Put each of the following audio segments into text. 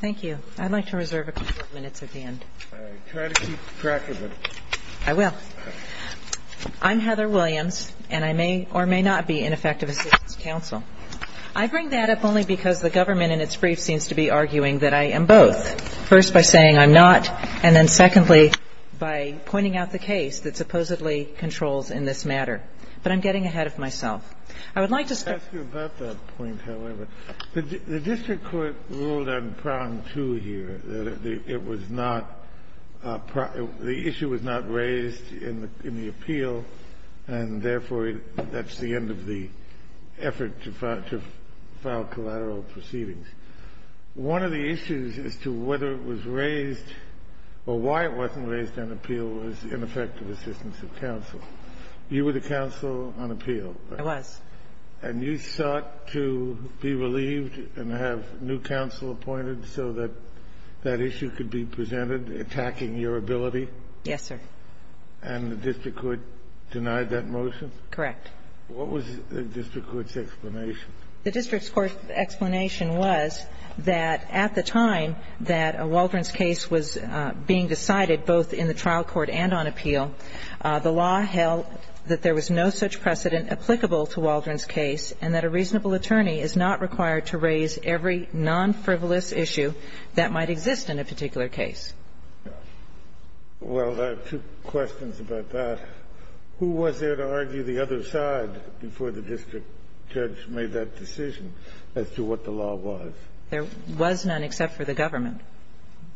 Thank you. I'd like to reserve a couple of minutes at the end. All right. Try to keep track of it. I will. I'm Heather Williams, and I may or may not be in effective assistance counsel. I bring that up only because the government in its brief seems to be arguing that I am both, first by saying I'm not, and then, secondly, by pointing out the case that supposedly controls in this matter. But I'm getting ahead of myself. I would like to start Let me ask you about that point, however. The district court ruled on prong two here, that it was not the issue was not raised in the appeal, and therefore, that's the end of the effort to file collateral proceedings. One of the issues as to whether it was raised or why it wasn't raised on appeal was ineffective assistance of counsel. You were the counsel on appeal. I was. And you sought to be relieved and have new counsel appointed so that that issue could be presented, attacking your ability? Yes, sir. And the district court denied that motion? Correct. What was the district court's explanation? The district court's explanation was that at the time that a Waldron's case was being decided, both in the trial court and on appeal, the law held that there was no such precedent applicable to Waldron's case and that a reasonable attorney is not required to raise every non-frivolous issue that might exist in a particular case. Well, I have two questions about that. Who was there to argue the other side before the district judge made that decision as to what the law was? There was none except for the government.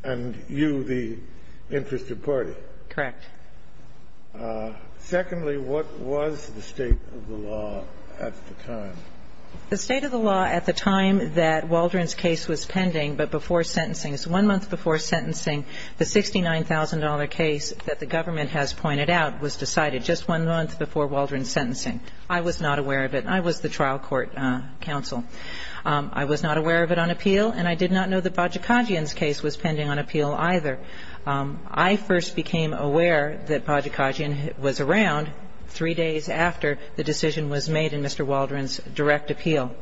And you, the interested party? Correct. Secondly, what was the state of the law at the time? The state of the law at the time that Waldron's case was pending, but before sentencing one month before sentencing, the $69,000 case that the government has pointed out was decided just one month before Waldron's sentencing. I was not aware of it. I was the trial court counsel. I was not aware of it on appeal, and I did not know that Bajikadjian's case was pending on appeal either. I first became aware that Bajikadjian was around three days after the decision was made in Mr. Waldron's direct appeal.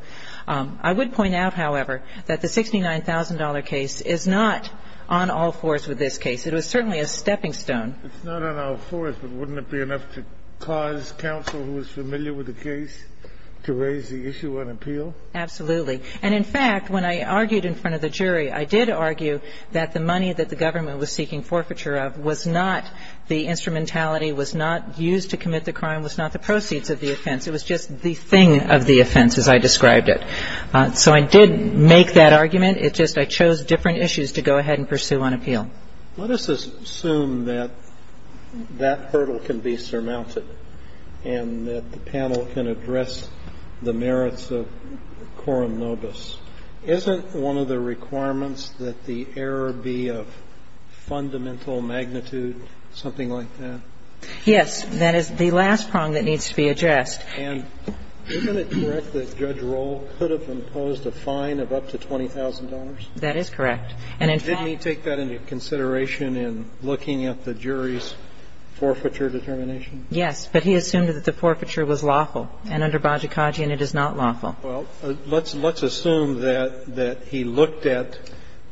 I would point out, however, that the $69,000 case is not on all fours with this case. It was certainly a stepping stone. It's not on all fours, but wouldn't it be enough to cause counsel who is familiar with the case to raise the issue on appeal? Absolutely. And, in fact, when I argued in front of the jury, I did argue that the money that the government was seeking forfeiture of was not the instrumentality, was not used to commit the crime, was not the proceeds of the offense. It was just the thing of the offense, as I described it. So I did make that argument. It's just I chose different issues to go ahead and pursue on appeal. Let us assume that that hurdle can be surmounted and that the panel can address the merits of Coram nobis. Isn't one of the requirements that the error be of fundamental magnitude, something like that? Yes. That is the last prong that needs to be addressed. And isn't it correct that Judge Roll could have imposed a fine of up to $20,000? That is correct. And, in fact Didn't he take that into consideration in looking at the jury's forfeiture determination? Yes. But he assumed that the forfeiture was lawful. And under Bajikaji, it is not lawful. Well, let's assume that he looked at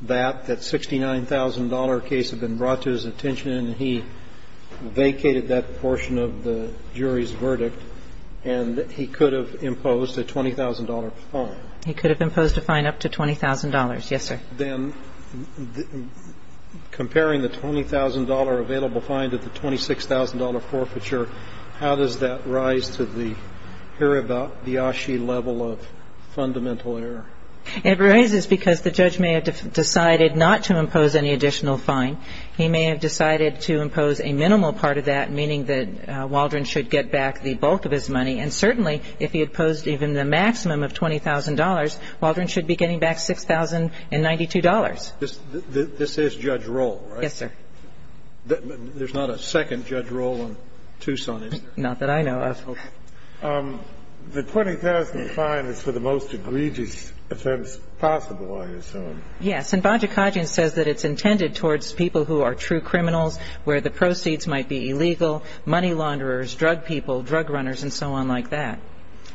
that, that $69,000 case had been brought to his attention, and he vacated that portion of the jury's verdict, and he could have imposed a $20,000 fine. He could have imposed a fine up to $20,000. Yes, sir. Then comparing the $20,000 available fine to the $26,000 forfeiture, how does that It raises because the judge may have decided not to impose any additional fine. He may have decided to impose a minimal part of that, meaning that Waldron should get back the bulk of his money. And certainly if he had posed even the maximum of $20,000, Waldron should be getting back $6,092. This is Judge Roll, right? Yes, sir. There's not a second Judge Roll on Tucson, is there? Not that I know of. The $20,000 fine is for the most egregious offense possible, I assume. Yes. And Baja Cajun says that it's intended towards people who are true criminals, where the proceeds might be illegal, money launderers, drug people, drug runners, and so on like that.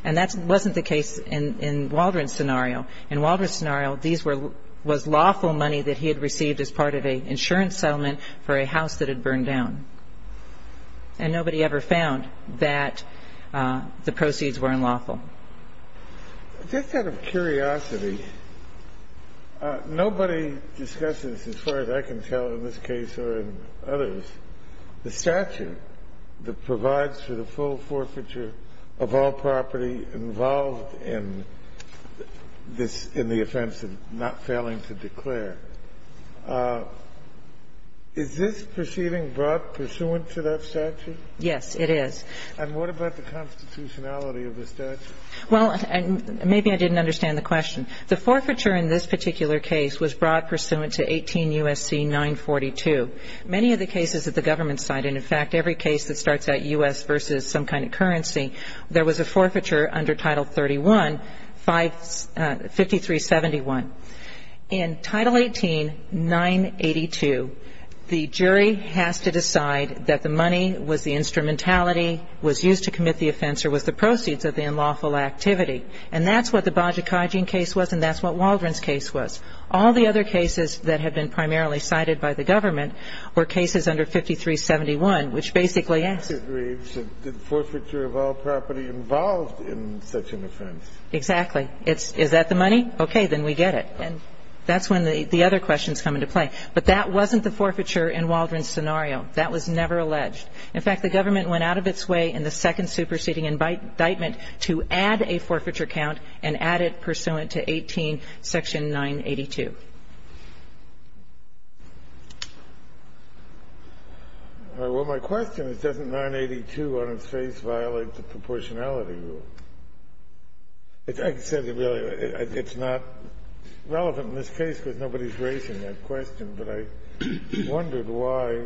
And that wasn't the case in Waldron's scenario. In Waldron's scenario, these were lawful money that he had received as part of an insurance settlement for a house that had burned down. And nobody ever found that the proceeds were unlawful. Just out of curiosity, nobody discusses, as far as I can tell in this case or in others, the statute that provides for the full forfeiture of all property involved in this in the offense of not failing to declare. Is this proceeding brought pursuant to that statute? Yes, it is. And what about the constitutionality of the statute? Well, maybe I didn't understand the question. The forfeiture in this particular case was brought pursuant to 18 U.S.C. 942. Many of the cases at the government side, and, in fact, every case that starts at U.S. versus some kind of currency, there was a forfeiture under Title 31, 5371. In Title 18, 982, the jury has to decide that the money was the instrumentality, was used to commit the offense, or was the proceeds of the unlawful activity. And that's what the Bajikajian case was, and that's what Waldron's case was. All the other cases that had been primarily cited by the government were cases under 5371, which basically asks you. Well, I don't believe that the forfeiture of all property involved in such an offense. Exactly. Is that the money? Okay. Then we get it. And that's when the other questions come into play. But that wasn't the forfeiture in Waldron's scenario. That was never alleged. In fact, the government went out of its way in the second superseding indictment to add a forfeiture count and add it pursuant to 18 Section 982. Well, my question is, doesn't 982 on its face violate the proportionality rule? It's not relevant in this case because nobody is raising that question, but I wondered why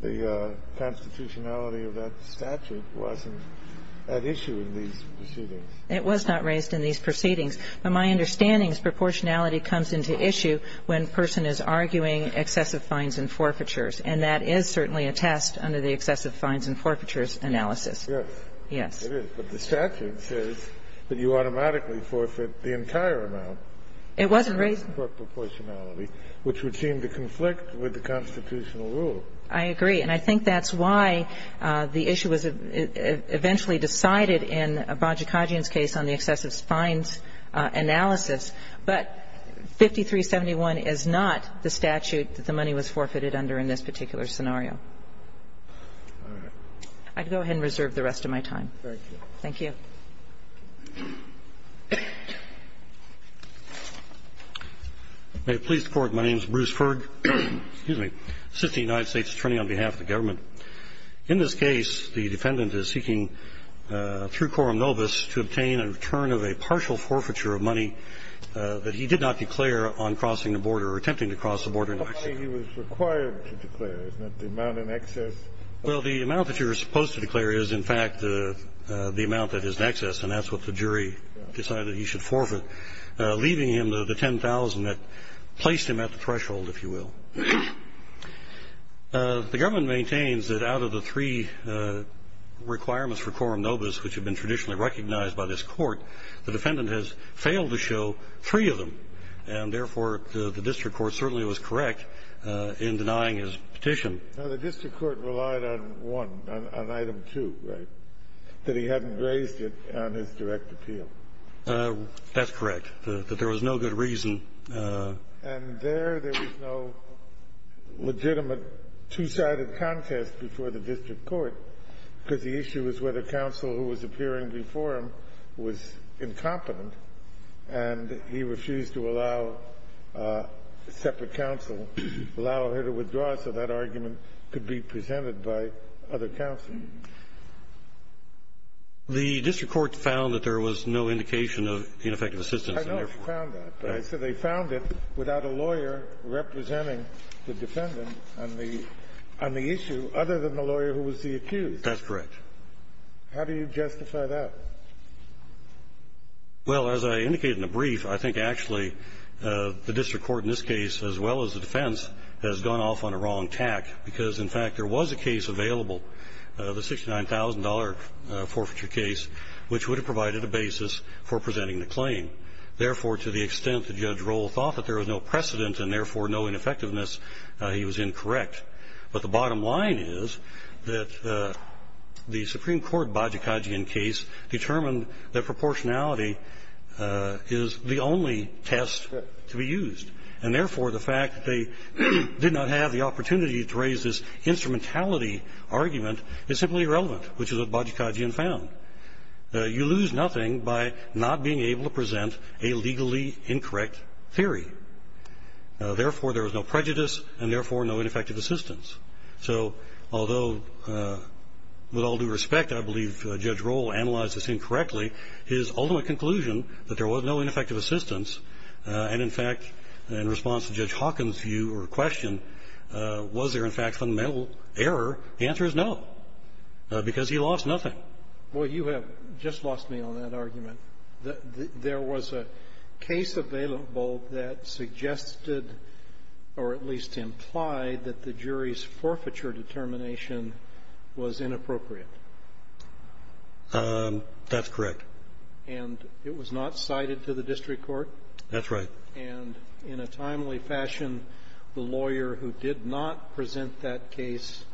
the constitutionality of that statute wasn't at issue in these proceedings. It was not raised in these proceedings. But my understanding is proportionality comes into issue when a person is arguing excessive fines and forfeitures, and that is certainly a test under the excessive fines and forfeitures analysis. Yes. Yes. It is. But the statute says that you automatically forfeit the entire amount. It wasn't raised. It's not proportionality, which would seem to conflict with the constitutional I agree. And I think that's why the issue was eventually decided in Bajikadzian's case on the excessive fines analysis. But 5371 is not the statute that the money was forfeited under in this particular scenario. All right. I'd go ahead and reserve the rest of my time. Thank you. Thank you. May it please the Court. My name is Bruce Ferg. Excuse me. Assistant United States Attorney on behalf of the government. In this case, the defendant is seeking, through quorum nobis, to obtain a return of a partial forfeiture of money that he did not declare on crossing the border or attempting to cross the border in excess. The money he was required to declare, isn't it, the amount in excess? Well, the amount that you're supposed to declare is, in fact, the amount that is in excess. The amount that you should forfeit, leaving him the 10,000 that placed him at the threshold, if you will. The government maintains that out of the three requirements for quorum nobis, which have been traditionally recognized by this Court, the defendant has failed to show three of them. And, therefore, the district court certainly was correct in denying his petition. The district court relied on one, on item two, right, that he hadn't raised it on his direct appeal. That's correct, that there was no good reason. And there, there was no legitimate two-sided contest before the district court, because the issue is whether counsel who was appearing before him was incompetent, and he refused to allow separate counsel, allow her to withdraw, so that argument could be presented by other counsel. The district court found that there was no indication of ineffective assistance in there. I know they found that, but I said they found it without a lawyer representing the defendant on the issue, other than the lawyer who was the accused. That's correct. How do you justify that? Well, as I indicated in the brief, I think, actually, the district court in this case, as well as the defense, has gone off on a wrong tack, because, in fact, there was a case available, the $69,000 forfeiture case, which would have provided a basis for presenting the claim. Therefore, to the extent that Judge Rohl thought that there was no precedent and, therefore, no ineffectiveness, he was incorrect. But the bottom line is that the Supreme Court, Bajikagian case, determined that proportionality is the only test to be used, and, therefore, the fact that they did not have the opportunity to raise this instrumentality argument is simply irrelevant, which is what Bajikagian found. You lose nothing by not being able to present a legally incorrect theory. Therefore, there was no prejudice, and, therefore, no ineffective assistance. So although, with all due respect, I believe Judge Rohl analyzed this incorrectly, his ultimate conclusion, that there was no ineffective assistance, and, in fact, in response to Judge Hawkins' view or question, was there, in fact, fundamental error, the answer is no, because he lost nothing. Well, you have just lost me on that argument. There was a case available that suggested or at least implied that the jury's forfeiture determination was inappropriate. That's correct. And it was not cited to the district court? That's right. And in a timely fashion, the lawyer who did not present that case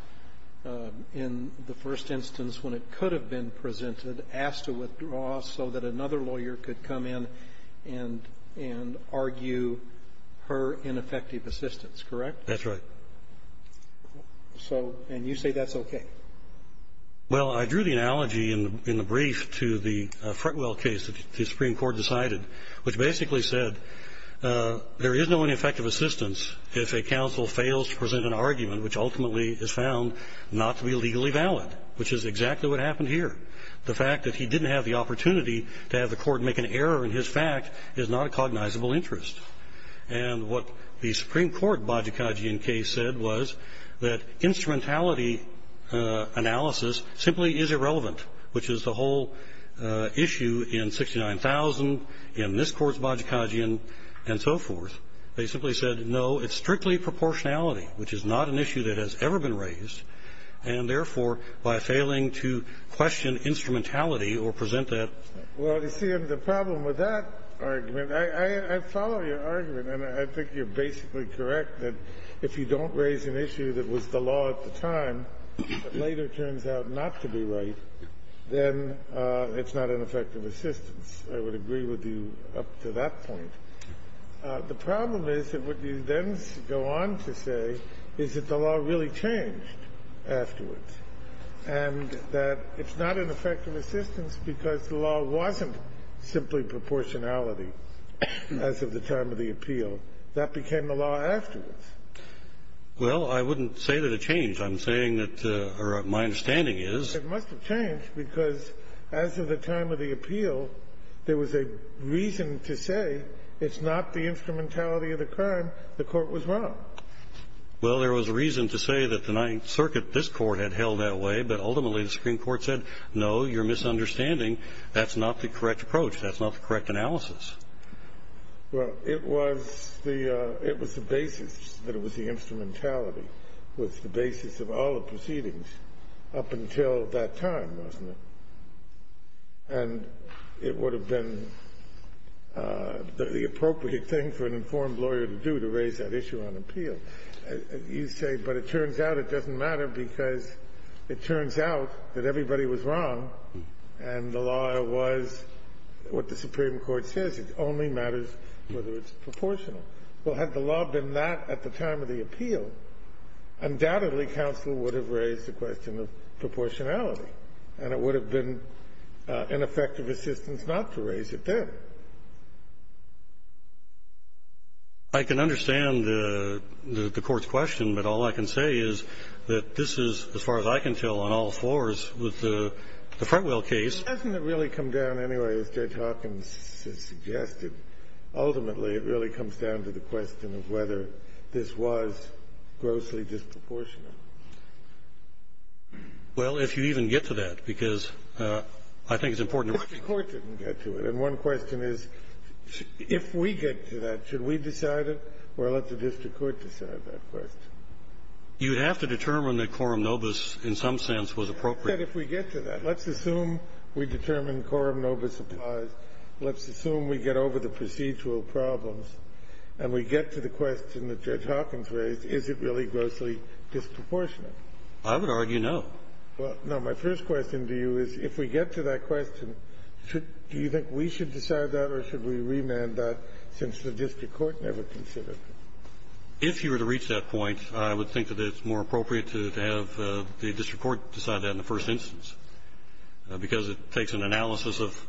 in the first instance when it could have been presented asked to withdraw so that another lawyer could come in and argue her ineffective assistance, correct? That's right. So you say that's okay? Well, I drew the analogy in the brief to the Fretwell case that the Supreme Court decided, which basically said there is no ineffective assistance if a counsel fails to present an argument which ultimately is found not to be legally valid, which is exactly what happened here. The fact that he didn't have the opportunity to have the court make an error in his fact is not a cognizable interest. And what the Supreme Court Bajikagian case said was that instrumentality simply is irrelevant, which is the whole issue in 69,000, in this Court's Bajikagian and so forth. They simply said, no, it's strictly proportionality, which is not an issue that has ever been raised, and therefore, by failing to question instrumentality or present that. Well, you see, the problem with that argument, I follow your argument, and I think you're basically correct that if you don't raise an issue that was the law at the time but later turns out not to be right, then it's not an effective assistance. I would agree with you up to that point. The problem is that what you then go on to say is that the law really changed afterwards and that it's not an effective assistance because the law wasn't simply proportionality as of the time of the appeal. That became the law afterwards. Well, I wouldn't say that it changed. I'm saying that, or my understanding is that it must have changed because as of the time of the appeal, there was a reason to say it's not the instrumentality of the crime. The Court was wrong. Well, there was a reason to say that the Ninth Circuit, this Court, had held that way, but ultimately, the Supreme Court said, no, you're misunderstanding. That's not the correct approach. That's not the correct analysis. Well, it was the basis that it was the instrumentality. It was the basis of all the proceedings up until that time, wasn't it? And it would have been the appropriate thing for an informed lawyer to do to raise that issue on appeal. You say, but it turns out it doesn't matter because it turns out that everybody was wrong and the law was what the Supreme Court says. It only matters whether it's proportional. Well, had the law been that at the time of the appeal, undoubtedly counsel would have raised the question of proportionality, and it would have been an effective assistance not to raise it then. I can understand the Court's question, but all I can say is that this is, as far as I can tell, on all fours with the Fretwell case. Doesn't it really come down anyway, as Judge Hopkins has suggested? Ultimately, it really comes down to the question of whether this was grossly disproportional. Well, if you even get to that, because I think it's important to make sure. If the Court didn't get to it. And one question is, if we get to that, should we decide it or let the district court decide that question? You'd have to determine that quorum nobis in some sense was appropriate. I said if we get to that. Let's assume we determine quorum nobis applies. Let's assume we get over the procedural problems and we get to the question that Judge Hopkins raised, is it really grossly disproportionate? I would argue no. Well, no. My first question to you is, if we get to that question, do you think we should decide that or should we remand that, since the district court never considered it? If you were to reach that point, I would think that it's more appropriate to have the district court decide that in the first instance, because it takes an analysis of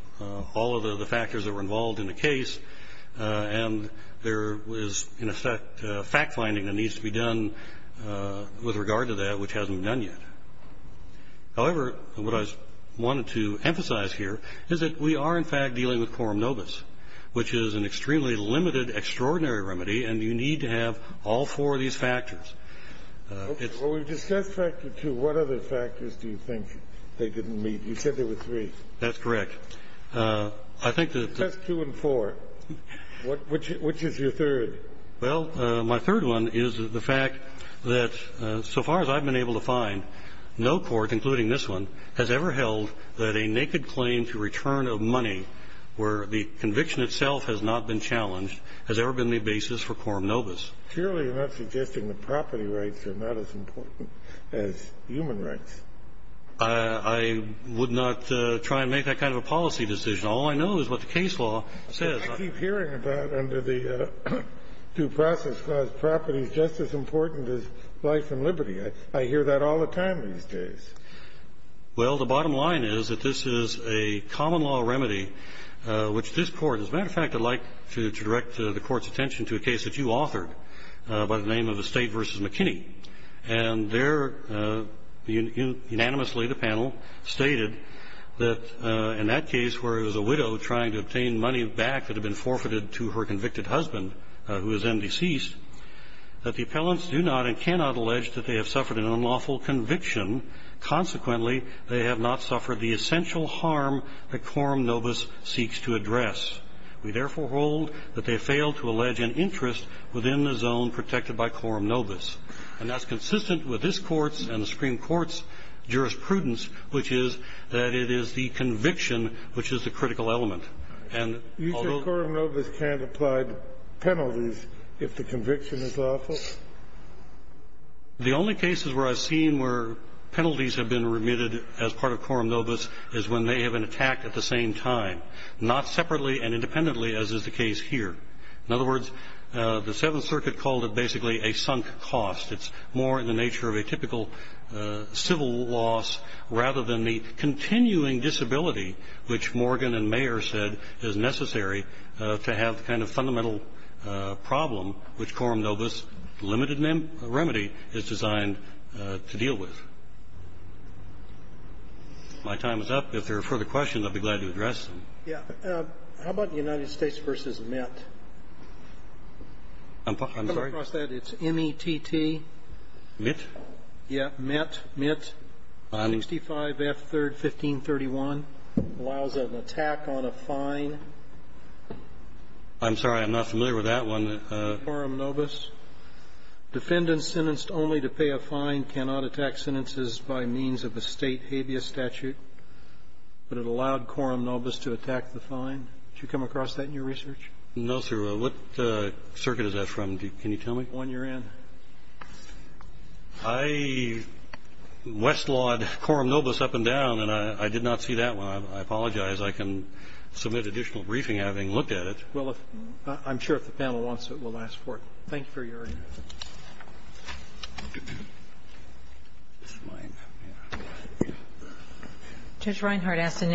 all of the factors that were involved in the case. And there is, in effect, fact-finding that needs to be done with regard to that, which hasn't been done yet. However, what I wanted to emphasize here is that we are, in fact, dealing with quorum nobis, which is an extremely limited, extraordinary remedy, and you need to have all four of these factors. It's — Well, we've discussed factor two. What other factors do you think they didn't meet? You said there were three. That's correct. I think that — That's two and four. Which is your third? Well, my third one is the fact that, so far as I've been able to find, no court, including this one, has ever held that a naked claim to return of money where the conviction itself has not been challenged has ever been the basis for quorum nobis. Surely you're not suggesting the property rights are not as important as human rights. I would not try and make that kind of a policy decision. All I know is what the case law says. But I keep hearing about under the Due Process Clause, property is just as important as life and liberty. I hear that all the time these days. Well, the bottom line is that this is a common-law remedy, which this Court — as a matter of fact, I'd like to direct the Court's attention to a case that you authored by the name of Estate v. McKinney. And there unanimously the panel stated that in that case where it was a widow trying to obtain money back that had been forfeited to her convicted husband, who was then deceased, that the appellants do not and cannot allege that they have suffered an unlawful conviction. Consequently, they have not suffered the essential harm that quorum nobis seeks to address. We therefore hold that they failed to allege an interest within the zone protected by quorum nobis. And that's consistent with this Court's and the Supreme Court's jurisprudence, which is that it is the conviction which is the critical element. And although — You say quorum nobis can't apply penalties if the conviction is lawful? The only cases where I've seen where penalties have been remitted as part of quorum nobis is when they have an attack at the same time, not separately and independently as is the case here. In other words, the Seventh Circuit called it basically a sunk cost. It's more in the nature of a typical civil loss rather than the continuing disability which Morgan and Mayer said is necessary to have the kind of fundamental problem which quorum nobis' limited remedy is designed to deal with. If my time is up, if there are further questions, I'd be glad to address them. Yeah. How about United States v. Mint? I'm sorry? Come across that. It's M-E-T-T. Mint? Yeah. Mint. Mint. 65 F. 3rd, 1531. Allows an attack on a fine. I'm sorry. I'm not familiar with that one. Quorum nobis. Defendants sentenced only to pay a fine cannot attack sentences by means of a State abeas statute, but it allowed quorum nobis to attack the fine. Did you come across that in your research? No, sir. What circuit is that from? Can you tell me? The one you're in. I westlawed quorum nobis up and down, and I did not see that one. I apologize. I can submit additional briefing having looked at it. Well, I'm sure if the panel wants it, we'll ask for it. Thank you for your answer. This is mine. Judge Reinhart asked an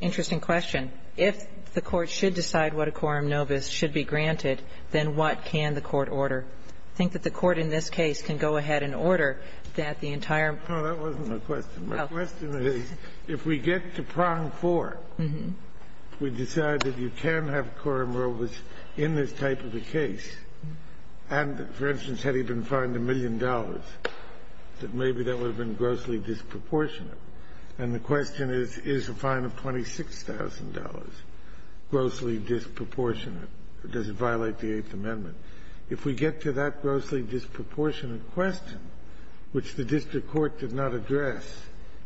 interesting question. If the Court should decide what a quorum nobis should be granted, then what can the Court order? I think that the Court in this case can go ahead and order that the entire ---- No, that wasn't my question. My question is if we get to prong four, we decide that you can have quorum nobis in this type of a case. And for instance, had he been fined a million dollars, that maybe that would have been grossly disproportionate. And the question is, is a fine of $26,000 grossly disproportionate? Does it violate the Eighth Amendment? If we get to that grossly disproportionate question, which the district court did not address,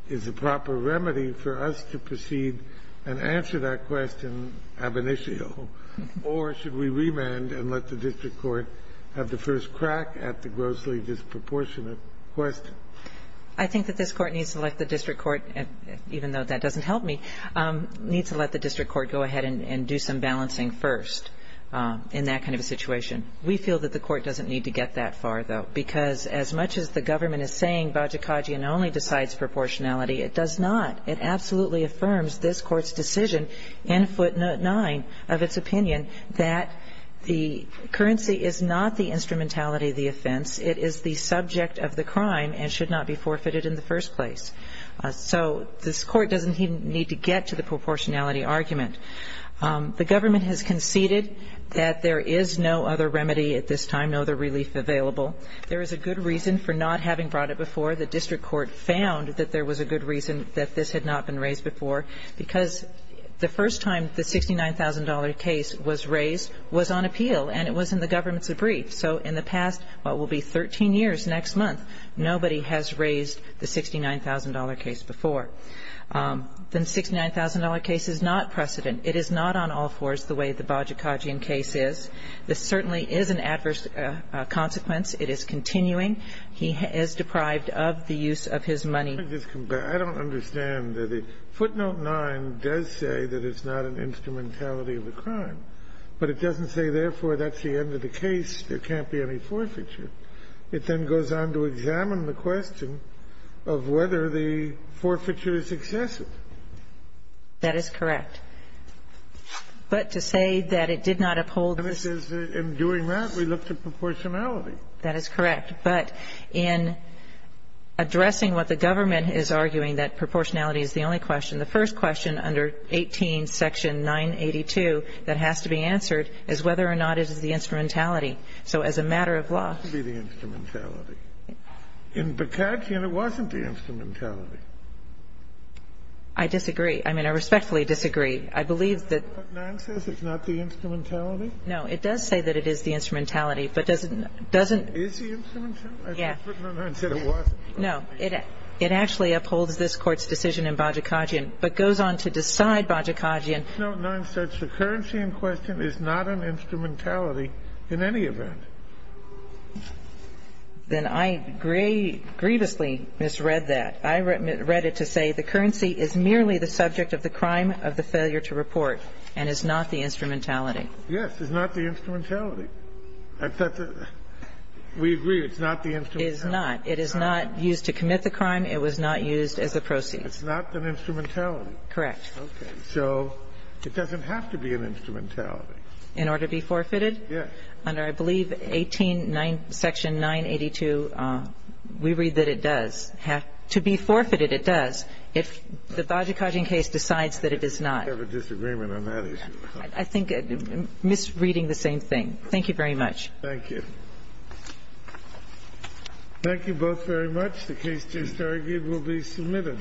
is the proper remedy for us to proceed and answer that question ab initio, or should we remand and let the district court have the first crack at the grossly disproportionate question? I think that this Court needs to let the district court, even though that doesn't help me, needs to let the district court go ahead and do some balancing first in that kind of a situation. We feel that the Court doesn't need to get that far, though, because as much as the government is saying Bajikagian only decides proportionality, it does not. It absolutely affirms this Court's decision in footnote 9 of its opinion that the currency is not the instrumentality of the offense, it is the subject of the crime and should not be forfeited in the first place. So this Court doesn't even need to get to the proportionality argument. The government has conceded that there is no other remedy at this time, no other relief available. There is a good reason for not having brought it before. The district court found that there was a good reason that this had not been raised before, because the first time the $69,000 case was raised was on appeal and it was in the government's brief. So in the past, what will be 13 years next month, nobody has raised the $69,000 case before. The $69,000 case is not precedent. It is not on all fours the way the Bajikagian case is. This certainly is an adverse consequence. It is continuing. He is deprived of the use of his money. I don't understand. Footnote 9 does say that it's not an instrumentality of the crime. But it doesn't say, therefore, that's the end of the case. There can't be any forfeiture. It then goes on to examine the question of whether the forfeiture is excessive. That is correct. But to say that it did not uphold the ---- In doing that, we looked at proportionality. That is correct. But in addressing what the government is arguing, that proportionality is the only question, the first question under 18 section 982 that has to be answered is whether or not it is the instrumentality. So as a matter of law ---- It has to be the instrumentality. In Bajikagian, it wasn't the instrumentality. I disagree. I mean, I respectfully disagree. I believe that ---- Footnote 9 says it's not the instrumentality? No. It does say that it is the instrumentality, but doesn't ---- Is the instrumentality? Yes. Footnote 9 said it wasn't. No. It actually upholds this Court's decision in Bajikagian, but goes on to decide Bajikagian. Footnote 9 says the currency in question is not an instrumentality in any event. Then I grievously misread that. I read it to say the currency is merely the subject of the crime of the failure to report and is not the instrumentality. Yes. It's not the instrumentality. We agree it's not the instrumentality. It is not. It is not used to commit the crime. It was not used as a proceeds. It's not an instrumentality. Correct. Okay. So it doesn't have to be an instrumentality. In order to be forfeited? Yes. Under, I believe, 18 section 982, we read that it does have to be forfeited, it does, if the Bajikagian case decides that it is not. I have a disagreement on that issue. I think misreading the same thing. Thank you very much. Thank you. Thank you both very much. The case just argued will be submitted.